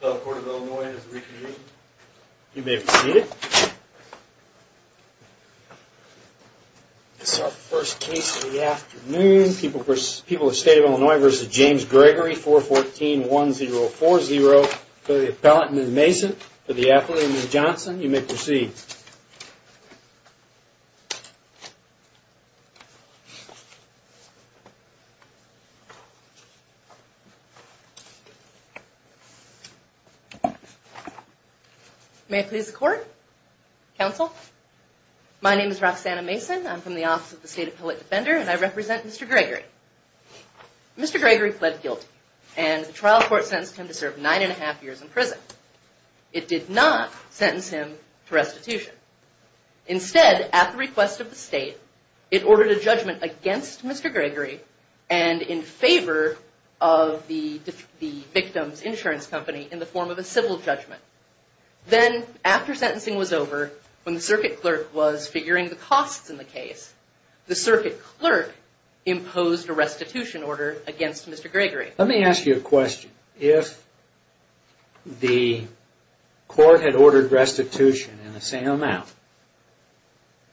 The court of Illinois is reconvened. You may proceed. This is our first case of the afternoon. People of the State of Illinois v. James Gregory 414-1040 for the appellant, Ms. Mason. For the appellant, Ms. Johnson. You may proceed. May I please the court? Counsel? My name is Roxanna Mason. I'm from the Office of the State Appellate Defender, and I represent Mr. Gregory. Mr. Gregory pled guilty, and the trial court sentenced him to serve nine and a half years in prison. It did not sentence him to restitution. Instead, at the request of the state, it ordered a judgment against Mr. Gregory and in favor of the victim's insurance company in the form of a civil judgment. Then, after sentencing was over, when the circuit clerk was figuring the costs in the case, the circuit clerk imposed a restitution order against Mr. Gregory. Let me ask you a question. If the court had ordered restitution in the same amount,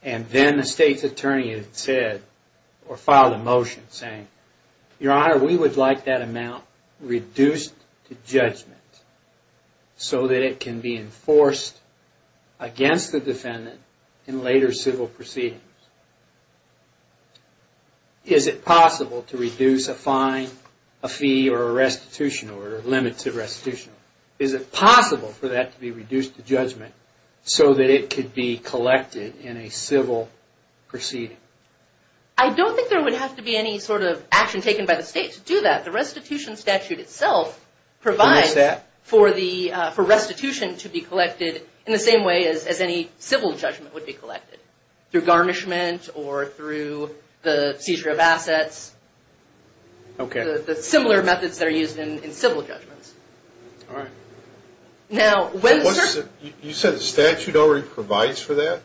and then the state's attorney had said, or filed a motion saying, Your Honor, we would like that amount reduced to judgment so that it can be enforced against the defendant in later civil proceedings, is it possible to reduce a fine, a fee, or a restitution order, a limit to restitution? Is it possible for that to be reduced to judgment so that it could be collected in a civil proceeding? I don't think there would have to be any sort of action taken by the state to do that. The restitution statute itself provides for restitution to be collected in the same way as any civil judgment would be collected, through garnishment or through the seizure of assets, the similar methods that are used in civil judgments. All right. You said the statute already provides for that?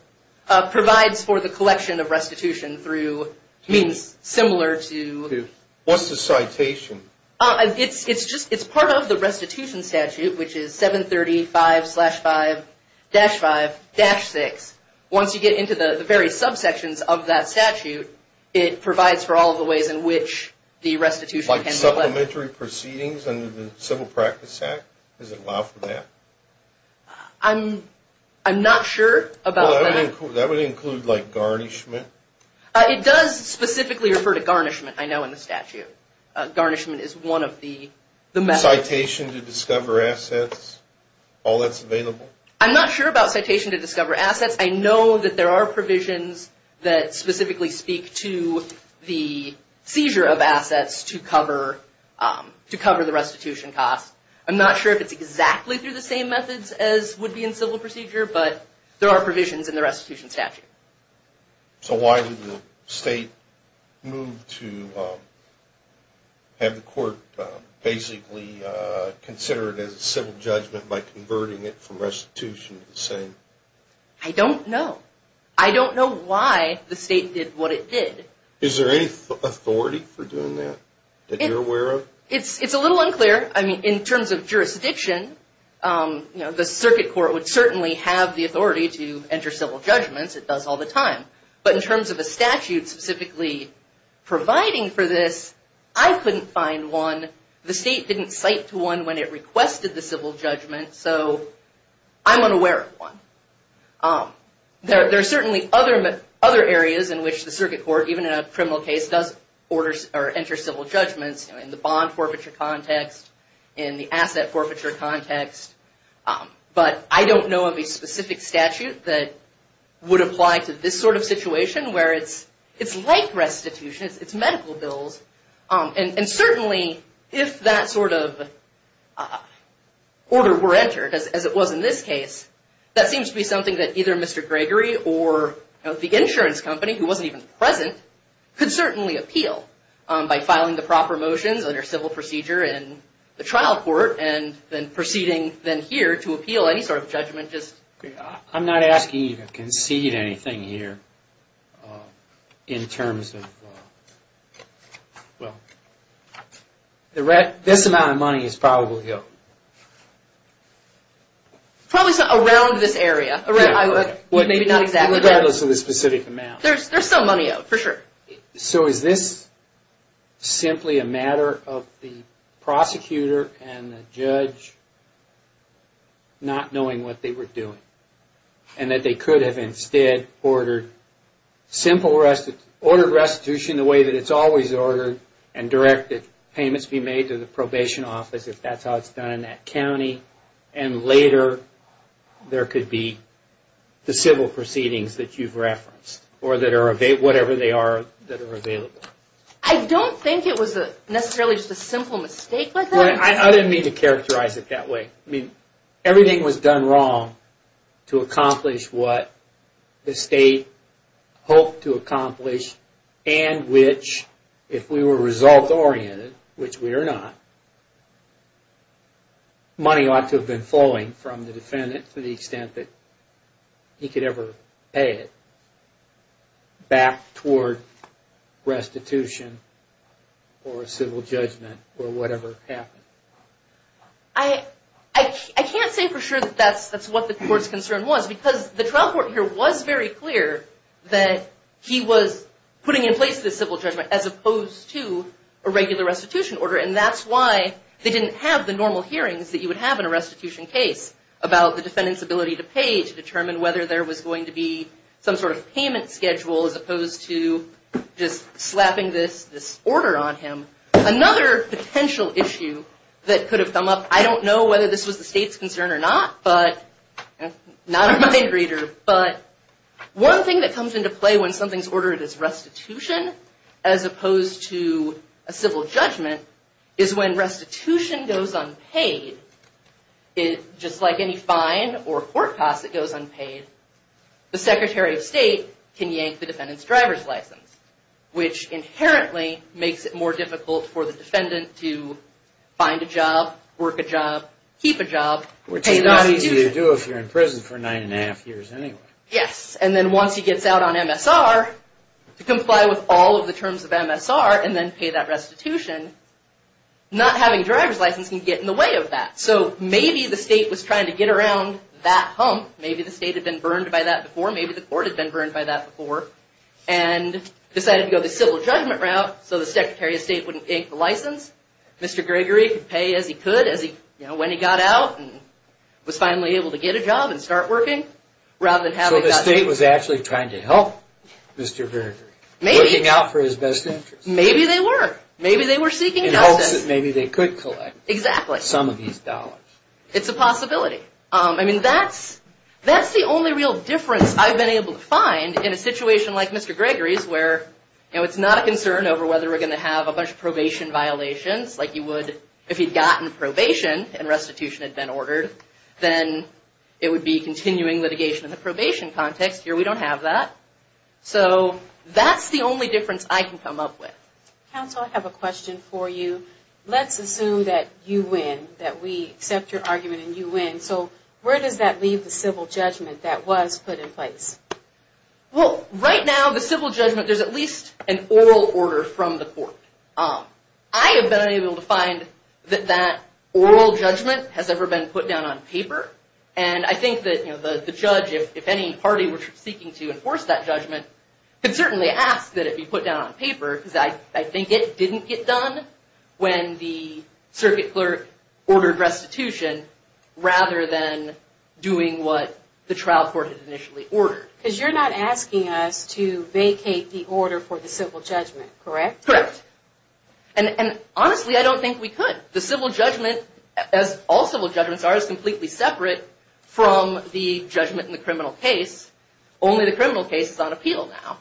Provides for the collection of restitution through means similar to... What's the citation? It's part of the restitution statute, which is 735-5-5-6. Once you get into the various subsections of that statute, it provides for all the ways in which the restitution can be collected. Like supplementary proceedings under the Civil Practice Act? Does it allow for that? I'm not sure about that. That would include, like, garnishment? It does specifically refer to garnishment, I know, in the statute. Garnishment is one of the methods. Citation to discover assets? All that's available? I'm not sure about citation to discover assets. I know that there are provisions that specifically speak to the seizure of assets to cover the restitution cost. I'm not sure if it's exactly through the same methods as would be in civil procedure, but there are provisions in the restitution statute. So why did the state move to have the court basically consider it as a civil judgment by converting it from restitution to the same? I don't know. I don't know why the state did what it did. Is there any authority for doing that that you're aware of? It's a little unclear. In terms of jurisdiction, the circuit court would certainly have the authority to enter civil judgments. It does all the time. But in terms of a statute specifically providing for this, I couldn't find one. The state didn't cite to one when it requested the civil judgment, so I'm unaware of one. There are certainly other areas in which the circuit court, even in a criminal case, does enter civil judgments in the bond forfeiture context, in the asset forfeiture context. But I don't know of a specific statute that would apply to this sort of situation where it's like restitution. It's medical bills. And certainly, if that sort of order were entered, as it was in this case, that seems to be something that either Mr. Gregory or the insurance company, who wasn't even present, could certainly appeal by filing the proper motions under civil procedure in the trial court and then proceeding then here to appeal any sort of judgment. I'm not asking you to concede anything here in terms of, well, this amount of money is probably ill. Probably around this area. Regardless of the specific amount. There's still money out, for sure. So is this simply a matter of the prosecutor and the judge not knowing what they were doing? And that they could have instead ordered restitution the way that it's always ordered and directed payments be made to the probation office, if that's how it's done in that county, and later there could be the civil proceedings that you've referenced or whatever they are that are available. I don't think it was necessarily just a simple mistake like that. I didn't mean to characterize it that way. Everything was done wrong to accomplish what the state hoped to accomplish and which, if we were result-oriented, which we are not, money ought to have been flowing from the defendant to the extent that he could ever pay it back toward restitution or civil judgment or whatever happened. I can't say for sure that that's what the court's concern was because the trial court here was very clear that he was putting in place this civil judgment as opposed to a regular restitution order and that's why they didn't have the normal hearings that you would have in a restitution case about the defendant's ability to pay to determine whether there was going to be some sort of payment schedule as opposed to just slapping this order on him. Another potential issue that could have come up, I don't know whether this was the state's concern or not, not a mind reader, but one thing that comes into play when something's ordered as restitution as opposed to a civil judgment is when restitution goes unpaid, just like any fine or court cost that goes unpaid, the Secretary of State can yank the defendant's driver's license, which inherently makes it more difficult for the defendant to find a job, work a job, keep a job. Which is not easy to do if you're in prison for nine and a half years anyway. Yes, and then once he gets out on MSR, to comply with all of the terms of MSR and then pay that restitution, not having a driver's license can get in the way of that. So maybe the state was trying to get around that hump. Maybe the state had been burned by that before. Maybe the court had been burned by that before and decided to go the civil judgment route so the Secretary of State wouldn't yank the license. Mr. Gregory could pay as he could when he got out and was finally able to get a job and start working So the state was actually trying to help Mr. Gregory. Maybe. Looking out for his best interest. Maybe they were. Maybe they were seeking help. In hopes that maybe they could collect some of these dollars. Exactly. It's a possibility. I mean, that's the only real difference I've been able to find in a situation like Mr. Gregory's where it's not a concern over whether we're going to have a bunch of probation violations. If he'd gotten probation and restitution had been ordered, then it would be continuing litigation in the probation context. Here we don't have that. So that's the only difference I can come up with. Counsel, I have a question for you. Let's assume that you win. That we accept your argument and you win. So where does that leave the civil judgment that was put in place? Well, right now the civil judgment, there's at least an oral order from the court. I have been able to find that that oral judgment has ever been put down on paper. And I think that the judge, if any party were seeking to enforce that judgment, could certainly ask that it be put down on paper. Because I think it didn't get done when the circuit clerk ordered restitution rather than doing what the trial court had initially ordered. Because you're not asking us to vacate the order for the civil judgment, correct? Correct. And honestly, I don't think we could. The civil judgment, as all civil judgments are, is completely separate from the judgment in the criminal case. Only the criminal case is on appeal now.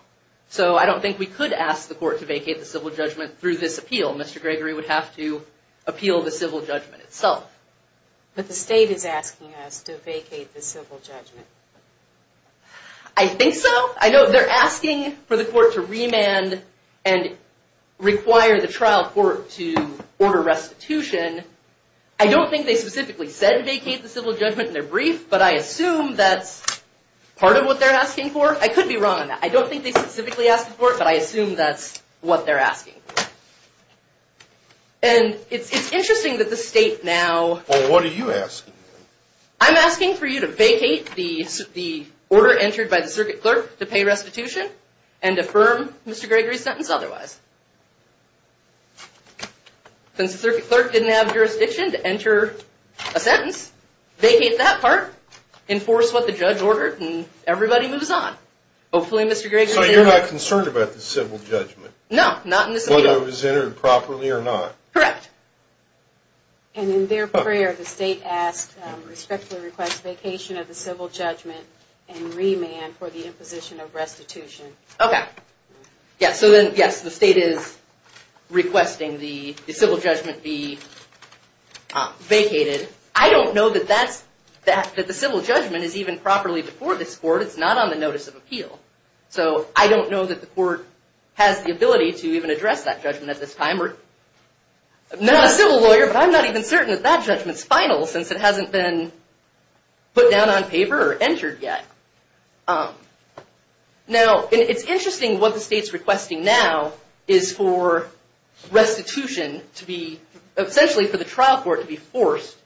So I don't think we could ask the court to vacate the civil judgment through this appeal. Mr. Gregory would have to appeal the civil judgment itself. But the state is asking us to vacate the civil judgment. I think so. I know they're asking for the court to remand and require the trial court to order restitution. I don't think they specifically said vacate the civil judgment in their brief, but I assume that's part of what they're asking for. I could be wrong on that. I don't think they specifically asked for it, but I assume that's what they're asking for. And it's interesting that the state now— Well, what are you asking? I'm asking for you to vacate the order entered by the circuit clerk to pay restitution and affirm Mr. Gregory's sentence otherwise. Since the circuit clerk didn't have jurisdiction to enter a sentence, vacate that part, enforce what the judge ordered, and everybody moves on. Hopefully Mr. Gregory— So you're not concerned about the civil judgment? No, not in this appeal. Whether it was entered properly or not. Correct. And in their prayer, the state asked, respectfully requests, vacation of the civil judgment and remand for the imposition of restitution. Okay. So then, yes, the state is requesting the civil judgment be vacated. I don't know that the civil judgment is even properly before this court. It's not on the notice of appeal. So I don't know that the court has the ability to even address that judgment at this time. I'm not a civil lawyer, but I'm not even certain that that judgment's final since it hasn't been put down on paper or entered yet. Now, it's interesting what the state's requesting now is for restitution to be— essentially for the trial court to be forced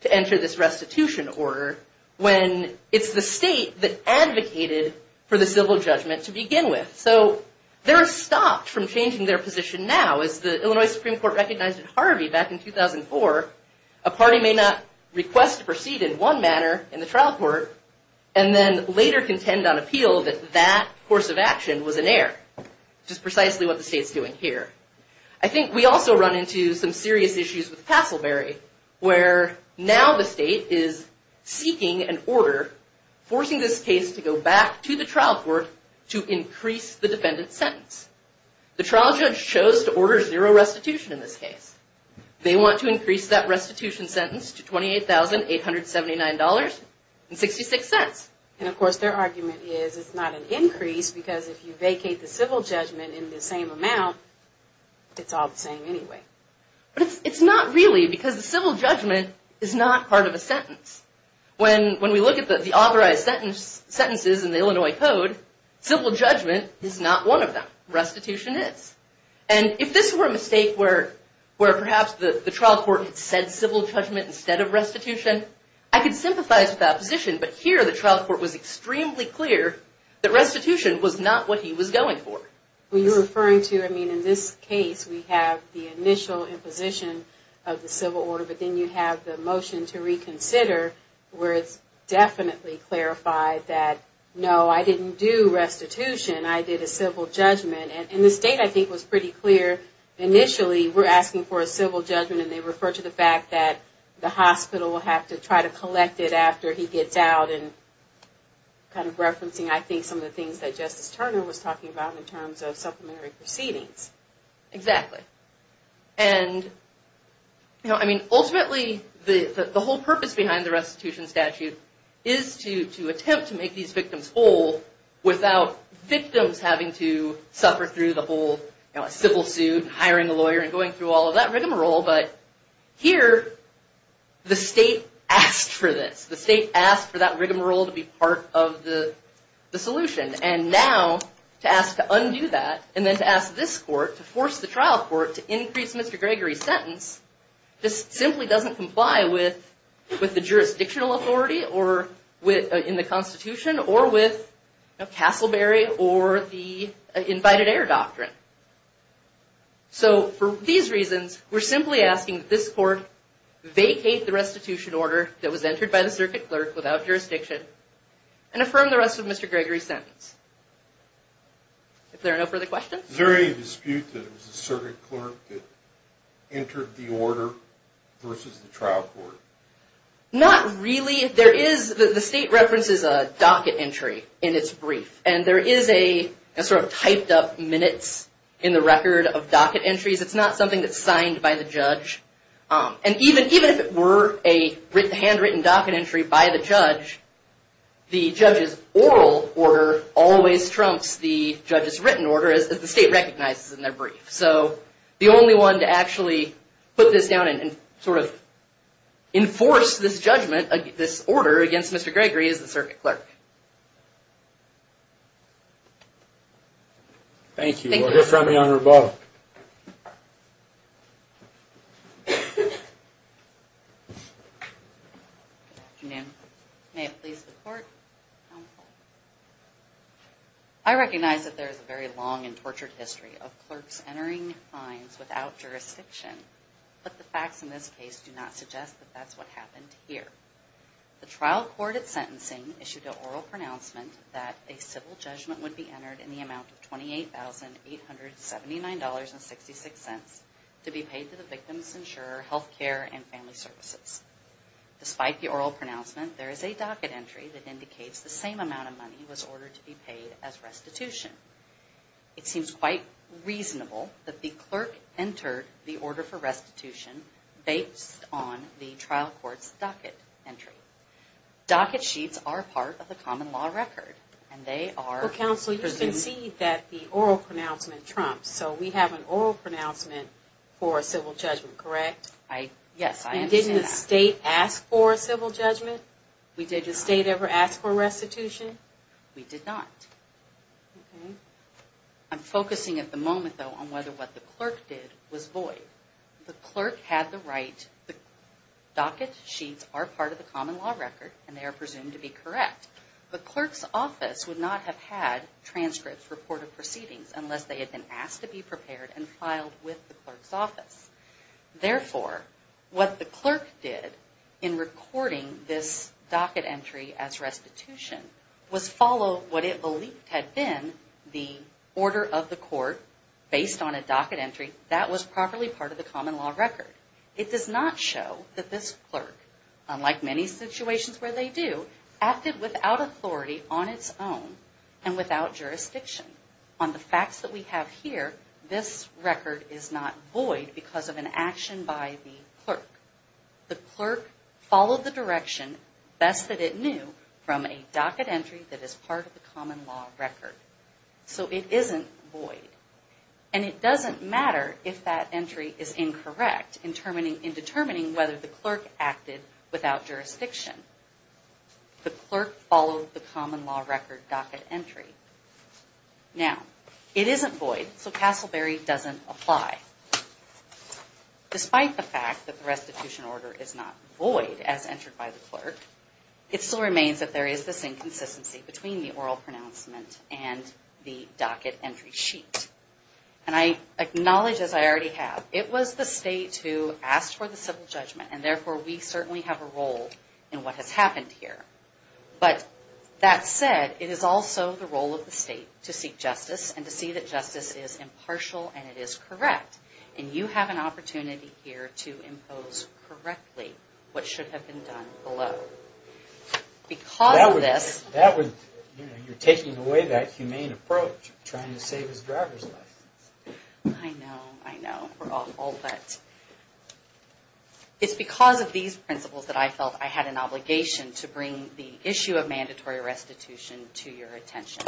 to enter this restitution order when it's the state that advocated for the civil judgment to begin with. So they're stopped from changing their position now. As the Illinois Supreme Court recognized in Harvey back in 2004, a party may not request to proceed in one manner in the trial court and then later contend on appeal that that course of action was in error, which is precisely what the state's doing here. I think we also run into some serious issues with Passelberry where now the state is seeking an order forcing this case to go back to the trial court to increase the defendant's sentence. The trial judge chose to order zero restitution in this case. They want to increase that restitution sentence to $28,879.66. And of course their argument is it's not an increase because if you vacate the civil judgment in the same amount, it's all the same anyway. But it's not really because the civil judgment is not part of a sentence. When we look at the authorized sentences in the Illinois Code, civil judgment is not one of them. Restitution is. And if this were a mistake where perhaps the trial court had said civil judgment instead of restitution, I could sympathize with that position, but here the trial court was extremely clear that restitution was not what he was going for. When you're referring to, I mean, in this case we have the initial imposition of the civil order, but then you have the motion to reconsider where it's definitely clarified that, no, I didn't do restitution. I did a civil judgment. And the state, I think, was pretty clear initially we're asking for a civil judgment and they refer to the fact that the hospital will have to try to collect it after he gets out and kind of referencing, I think, some of the things that Justice Turner was talking about in terms of supplementary proceedings. Exactly. And, you know, I mean, ultimately the whole purpose behind the restitution statute is to attempt to make these victims whole without victims having to suffer through the whole civil suit and hiring a lawyer and going through all of that rigmarole. But here the state asked for this. The state asked for that rigmarole to be part of the solution. And now to ask to undo that and then to ask this court to force the trial court to increase Mr. Gregory's sentence just simply doesn't comply with the jurisdictional authority in the Constitution or with Castleberry or the invited heir doctrine. So for these reasons, we're simply asking that this court vacate the restitution order that was entered by the circuit clerk without jurisdiction and affirm the rest of Mr. Gregory's sentence. If there are no further questions? Is there any dispute that it was the circuit clerk that entered the order versus the trial court? Not really. There is, the state references a docket entry in its brief and there is a sort of typed up minutes in the record of docket entries. It's not something that's signed by the judge. And even if it were a handwritten docket entry by the judge, the judge's oral order always trumps the judge's written order as the state recognizes in their brief. So the only one to actually put this down and sort of enforce this judgment, this order against Mr. Gregory is the circuit clerk. Thank you. We'll hear from you on rebuttal. Good afternoon. May it please the court. I recognize that there is a very long and tortured history of clerks entering fines without jurisdiction, but the facts in this case do not suggest that that's what happened here. The trial court at sentencing issued an oral pronouncement that a civil judgment would be entered in the amount of $28,879.66 to be paid to the victim's insurer, health care, and family services. Despite the oral pronouncement, there is a docket entry that indicates the same amount of money was ordered to be paid as restitution. It seems quite reasonable that the clerk entered the order for restitution based on the trial court's docket entry. Docket sheets are part of the common law record, and they are... Well, counsel, you concede that the oral pronouncement trumps, so we have an oral pronouncement for a civil judgment, correct? Yes, I understand that. And didn't the state ask for a civil judgment? Did the state ever ask for restitution? We did not. I'm focusing at the moment, though, on whether what the clerk did was void. The clerk had the right. The docket sheets are part of the common law record, and they are presumed to be correct. The clerk's office would not have had transcripts reported proceedings unless they had been asked to be prepared and filed with the clerk's office. Therefore, what the clerk did in recording this docket entry as restitution was follow what it believed had been the order of the court based on a docket entry that was properly part of the common law record. It does not show that this clerk, unlike many situations where they do, acted without authority on its own and without jurisdiction. On the facts that we have here, this record is not void because of an action by the clerk. The clerk followed the direction best that it knew from a docket entry that is part of the common law record. So it isn't void. And it doesn't matter if that entry is incorrect in determining whether the clerk acted without jurisdiction. The clerk followed the common law record docket entry. Now, it isn't void, so Castleberry doesn't apply. Despite the fact that the restitution order is not void as entered by the clerk, it still remains that there is this inconsistency between the oral pronouncement and the docket entry sheet. And I acknowledge, as I already have, it was the state who asked for the civil judgment, and therefore we certainly have a role in what has happened here. But that said, it is also the role of the state to seek justice and to see that justice is impartial and it is correct. And you have an opportunity here to impose correctly what should have been done below. Because of this... You're taking away that humane approach, trying to save his driver's license. I know, I know. We're awful. But it's because of these principles that I felt I had an obligation to bring the issue of mandatory restitution to your attention.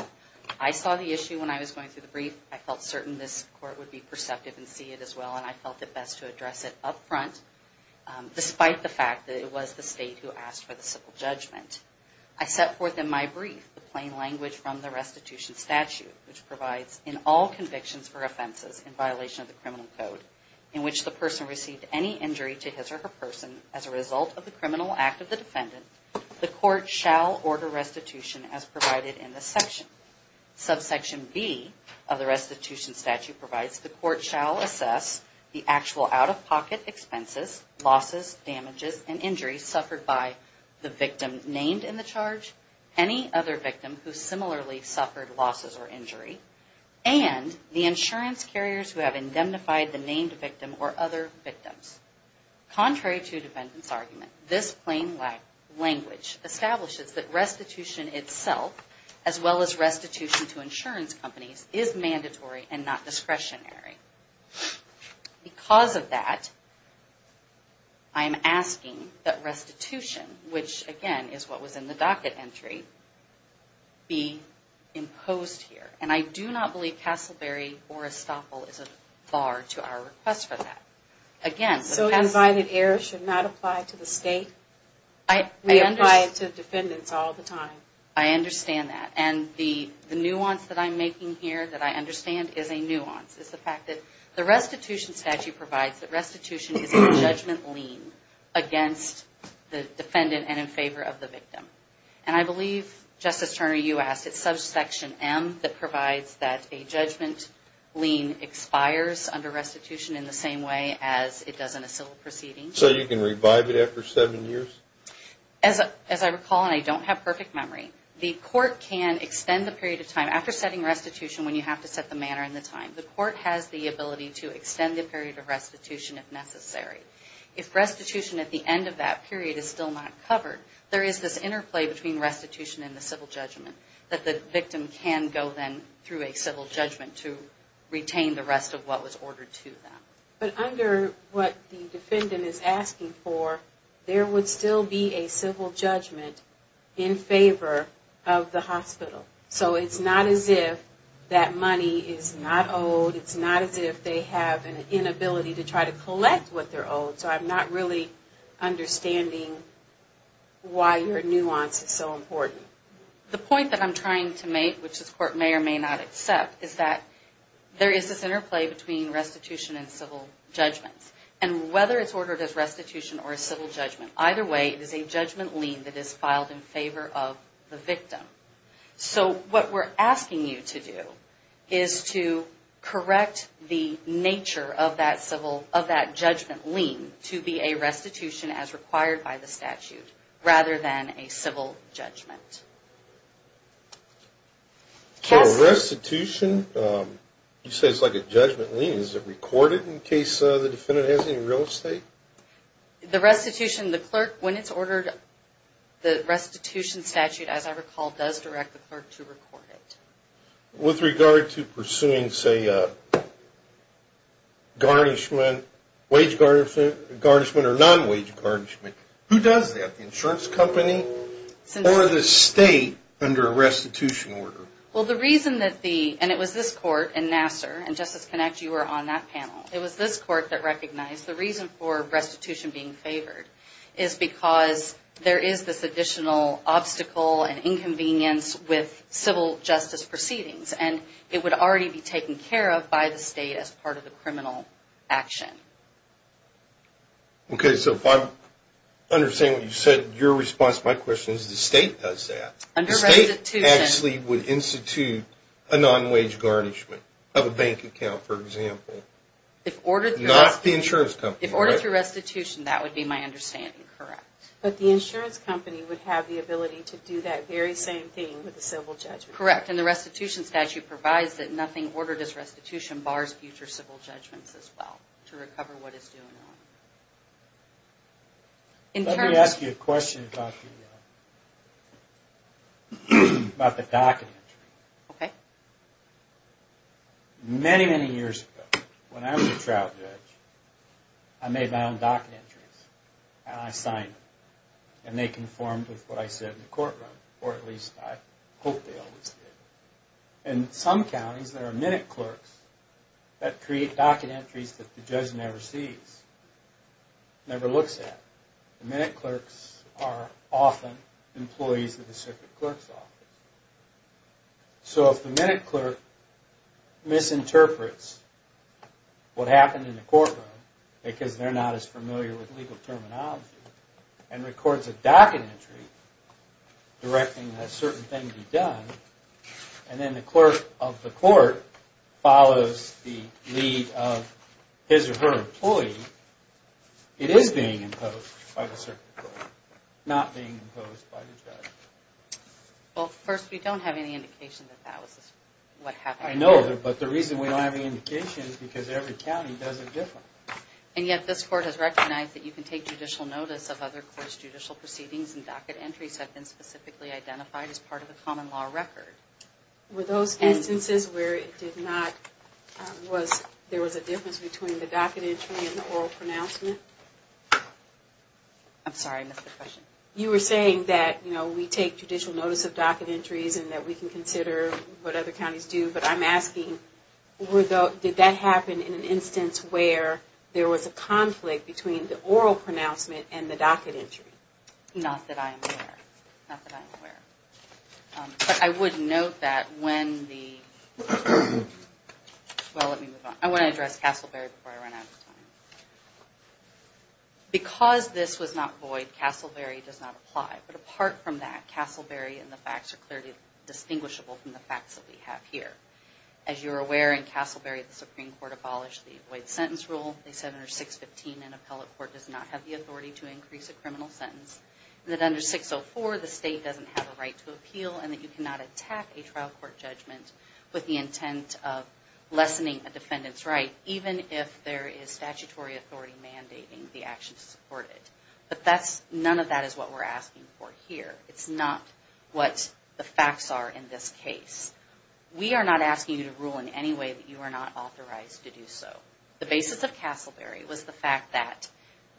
I saw the issue when I was going through the brief. I felt certain this court would be perceptive and see it as well, and I felt it best to address it up front, despite the fact that it was the state who asked for the civil judgment. I set forth in my brief the plain language from the restitution statute, which provides in all convictions for offenses in violation of the criminal code. In which the person received any injury to his or her person as a result of the criminal act of the defendant, the court shall order restitution as provided in this section. Subsection B of the restitution statute provides the court shall assess the actual out-of-pocket expenses, losses, damages, and injuries suffered by the victim named in the charge, any other victim who similarly suffered losses or injury, and the insurance carriers who have indemnified the named victim or other victims. Contrary to the defendant's argument, this plain language establishes that restitution itself, as well as restitution to insurance companies, is mandatory and not discretionary. Because of that, I am asking that restitution, which again is what was in the docket entry, be imposed here. And I do not believe Castleberry or Estoppel is a bar to our request for that. Again... So unviolated errors should not apply to the state? We apply it to defendants all the time. I understand that. And the nuance that I'm making here that I understand is a nuance. It's the fact that the restitution statute provides that restitution is a judgment lien against the defendant and in favor of the victim. And I believe, Justice Turner, you asked, it's subsection M that provides that a judgment lien expires under restitution in the same way as it does in a civil proceeding. So you can revive it after seven years? As I recall, and I don't have perfect memory, the court can extend the period of time after setting restitution when you have to set the manner and the time. The court has the ability to extend the period of restitution if necessary. If restitution at the end of that period is still not covered, there is this interplay between restitution and the civil judgment that the victim can go then through a civil judgment to retain the rest of what was ordered to them. But under what the defendant is asking for, there would still be a civil judgment in favor of the hospital. So it's not as if that money is not owed. It's not as if they have an inability to try to collect what they're owed. So I'm not really understanding why your nuance is so important. The point that I'm trying to make, which this court may or may not accept, is that there is this interplay between restitution and civil judgments. And whether it's ordered as restitution or a civil judgment, either way it is a judgment lien that is filed in favor of the victim. So what we're asking you to do is to correct the nature of that judgment lien to be a restitution as required by the statute rather than a civil judgment. So restitution, you say it's like a judgment lien. Is it recorded in case the defendant has any real estate? The restitution, the clerk, when it's ordered, the restitution statute, as I recall, does direct the clerk to record it. With regard to pursuing, say, a garnishment, wage garnishment or non-wage garnishment, who does that? The insurance company or the state under a restitution order? Well, the reason that the, and it was this court in Nassar, and Justice Connacht, you were on that panel, it was this court that recognized the reason for restitution being favored is because there is this additional obstacle and inconvenience with civil justice proceedings. And it would already be taken care of by the state as part of the criminal action. Okay, so if I'm understanding what you said, your response to my question is the state does that. Under restitution. The state actually would institute a non-wage garnishment of a bank account, for example. If ordered through restitution. Not the insurance company, right? Ordered through restitution, that would be my understanding, correct. But the insurance company would have the ability to do that very same thing with a civil judgment. Correct, and the restitution statute provides that nothing ordered as restitution bars future civil judgments as well, to recover what it's doing wrong. Let me ask you a question about the docket entry. Okay. Many, many years ago, when I was a trial judge, I made my own docket entries. And I signed them. And they conformed with what I said in the courtroom. Or at least I hope they always did. In some counties, there are minute clerks that create docket entries that the judge never sees. Never looks at. Minute clerks are often employees of the circuit clerk's office. So if the minute clerk misinterprets what happened in the courtroom, because they're not as familiar with legal terminology, and records a docket entry directing that a certain thing be done, and then the clerk of the court follows the lead of his or her employee, it is being imposed by the circuit clerk, not being imposed by the judge. Well, first, we don't have any indication that that was what happened. I know. But the reason we don't have any indication is because every county does it differently. And yet this court has recognized that you can take judicial notice of other courts' judicial proceedings and docket entries have been specifically identified as part of a common law record. Were those instances where it did not, was there was a difference between the docket entry and the oral pronouncement? I'm sorry, I missed the question. You were saying that, you know, we take judicial notice of docket entries and that we can consider what other counties do, but I'm asking did that happen in an instance where there was a conflict between the oral pronouncement and the docket entry? Not that I'm aware. Not that I'm aware. But I would note that when the, well, let me move on. I want to address Castleberry before I run out of time. Because this was not void, Castleberry does not apply. But apart from that, Castleberry and the facts are clearly distinguishable from the facts that we have here. As you're aware, in Castleberry, the Supreme Court abolished the void sentence rule. They said under 615, an appellate court does not have the authority to increase a criminal sentence. That under 604, the state doesn't have a right to appeal and that you cannot attack a trial court judgment with the intent of lessening a defendant's right, even if there is statutory authority mandating the action to support it. But none of that is what we're asking for here. It's not what the facts are in this case. We are not asking you to rule in any way that you are not authorized to do so. The basis of Castleberry was the fact that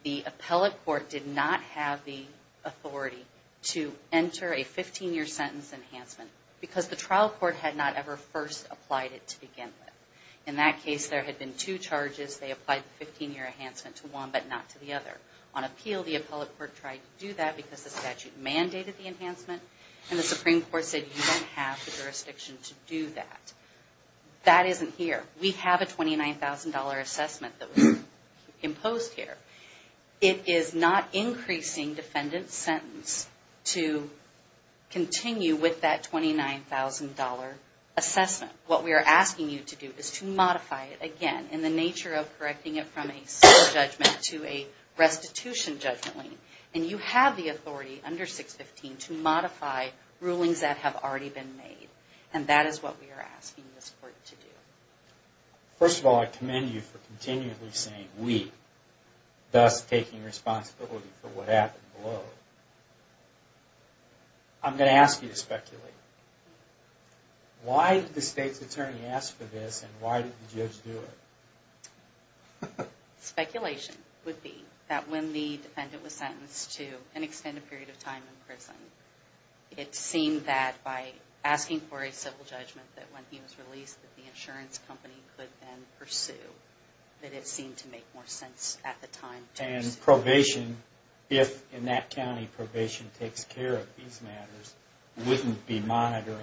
the appellate court did not have the authority to enter a 15-year sentence enhancement because the trial court had not ever first applied it to begin with. In that case, there had been two charges. They applied the 15-year enhancement to one but not to the other. On appeal, the appellate court tried to do that because the statute mandated the enhancement. And the Supreme Court said you don't have the jurisdiction to do that. That isn't here. We have a $29,000 assessment that was imposed here. It is not increasing defendant's sentence to continue with that $29,000 assessment. What we are asking you to do is to modify it again in the nature of correcting it from a civil judgment to a restitution judgment. And you have the authority under 615 to modify rulings that have already been made. And that is what we are asking this court to do. First of all, I commend you for continually saying we, thus taking responsibility for what happened below. I'm going to ask you to speculate. Why did the state's attorney ask for this and why did the judge do it? Speculation would be that when the defendant was sentenced to an extended period of time in prison, it seemed that by asking for a civil judgment that when he was released, that the insurance company could then pursue. That it seemed to make more sense at the time. And probation, if in that county probation takes care of these matters, wouldn't be monitoring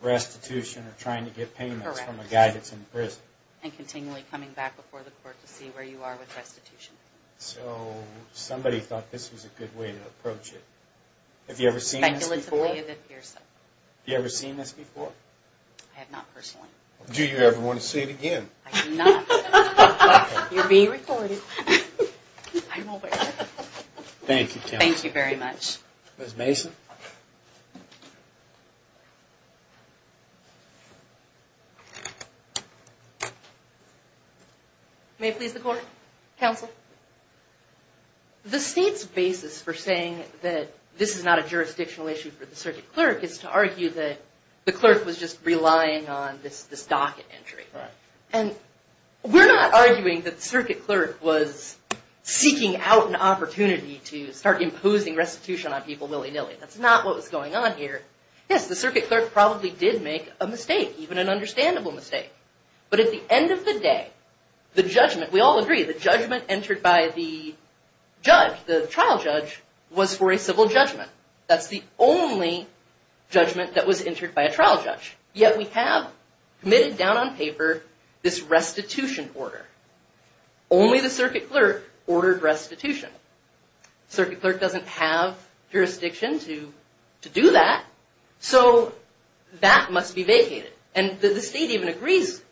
restitution or trying to get payments from a guy that's in prison. Correct. And continually coming back before the court to see where you are with restitution. So somebody thought this was a good way to approach it. Have you ever seen this before? Speculatively, it appears so. Have you ever seen this before? I have not personally. Do you ever want to see it again? I do not. You're being recorded. Thank you, counsel. Thank you very much. Ms. Mason? May it please the court? Counsel? The state's basis for saying that this is not a jurisdictional issue for the circuit clerk is to argue that the clerk was just relying on this docket entry. And we're not arguing that the circuit clerk was seeking out an opportunity to start imposing restitution on people willy-nilly. That's not what was going on here. Yes, the circuit clerk probably did make a mistake, even an understandable mistake. But at the end of the day, the judgment, we all agree, the judgment entered by the judge, the trial judge, was for a civil judgment. That's the only judgment that was entered by a trial judge. Yet we have committed down on paper this restitution order. Only the circuit clerk ordered restitution. Circuit clerk doesn't have jurisdiction to do that. So that must be vacated. And the state even agrees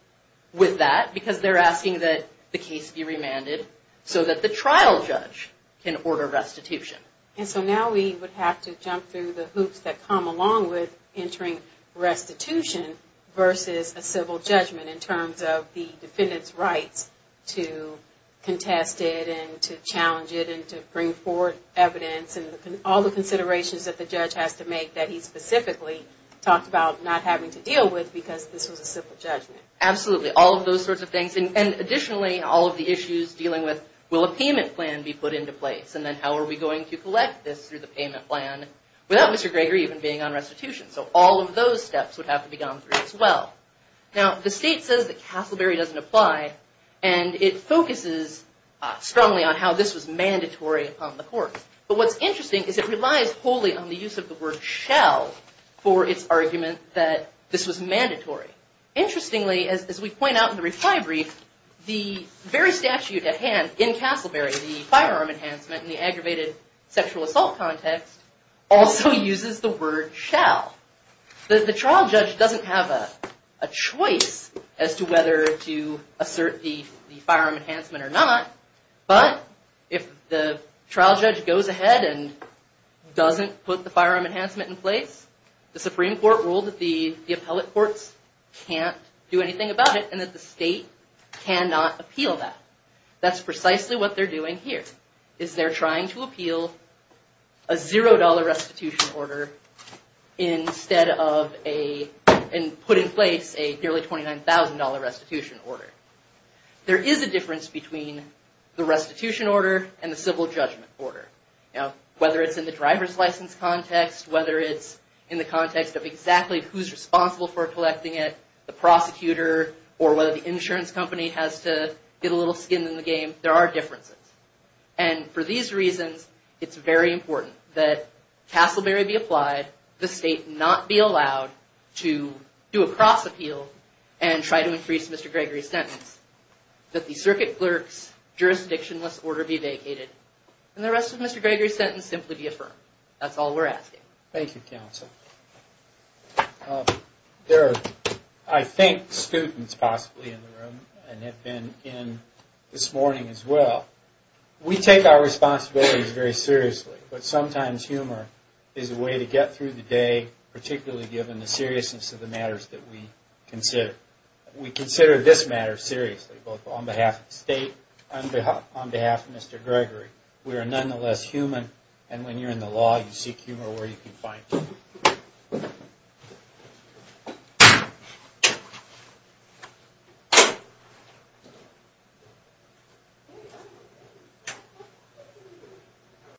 with that because they're asking that the case be remanded so that the trial judge can order restitution. And so now we would have to jump through the hoops that come along with entering restitution versus a civil judgment in terms of the defendant's rights to contest it and to challenge it and to bring forward evidence and all the considerations that the judge has to make that he specifically talked about not having to deal with because this was a civil judgment. Absolutely, all of those sorts of things. And additionally, all of the issues dealing with will a payment plan be put into place and then how are we going to collect this through the payment plan without Mr. Greger even being on restitution. So all of those steps would have to be gone through as well. Now, the state says that Castleberry doesn't apply and it focuses strongly on how this was mandatory upon the court. But what's interesting is it relies wholly on the use of the word shall for its argument that this was mandatory. Interestingly, as we point out in the reply brief, the very statute at hand in Castleberry, the firearm enhancement and the aggravated sexual assault context, also uses the word shall. The trial judge doesn't have a choice as to whether to assert the firearm enhancement or not, but if the trial judge goes ahead and doesn't put the firearm enhancement in place, the Supreme Court ruled that the appellate courts can't do anything about it and that the state cannot appeal that. That's precisely what they're doing here, is they're trying to appeal a $0 restitution order instead of putting in place a nearly $29,000 restitution order. There is a difference between the restitution order and the civil judgment order. Whether it's in the driver's license context, whether it's in the context of exactly who's responsible for collecting it, whether it's the prosecutor or whether the insurance company has to get a little skin in the game, there are differences. For these reasons, it's very important that Castleberry be applied, the state not be allowed to do a cross-appeal and try to increase Mr. Gregory's sentence, that the circuit clerk's jurisdictionless order be vacated, and the rest of Mr. Gregory's sentence simply be affirmed. That's all we're asking. Thank you, Counsel. There are, I think, students possibly in the room and have been in this morning as well. We take our responsibilities very seriously, but sometimes humor is a way to get through the day, particularly given the seriousness of the matters that we consider. We consider this matter seriously, both on behalf of the state and on behalf of Mr. Gregory. We are nonetheless human, and when you're in the law, you seek humor where you can find it.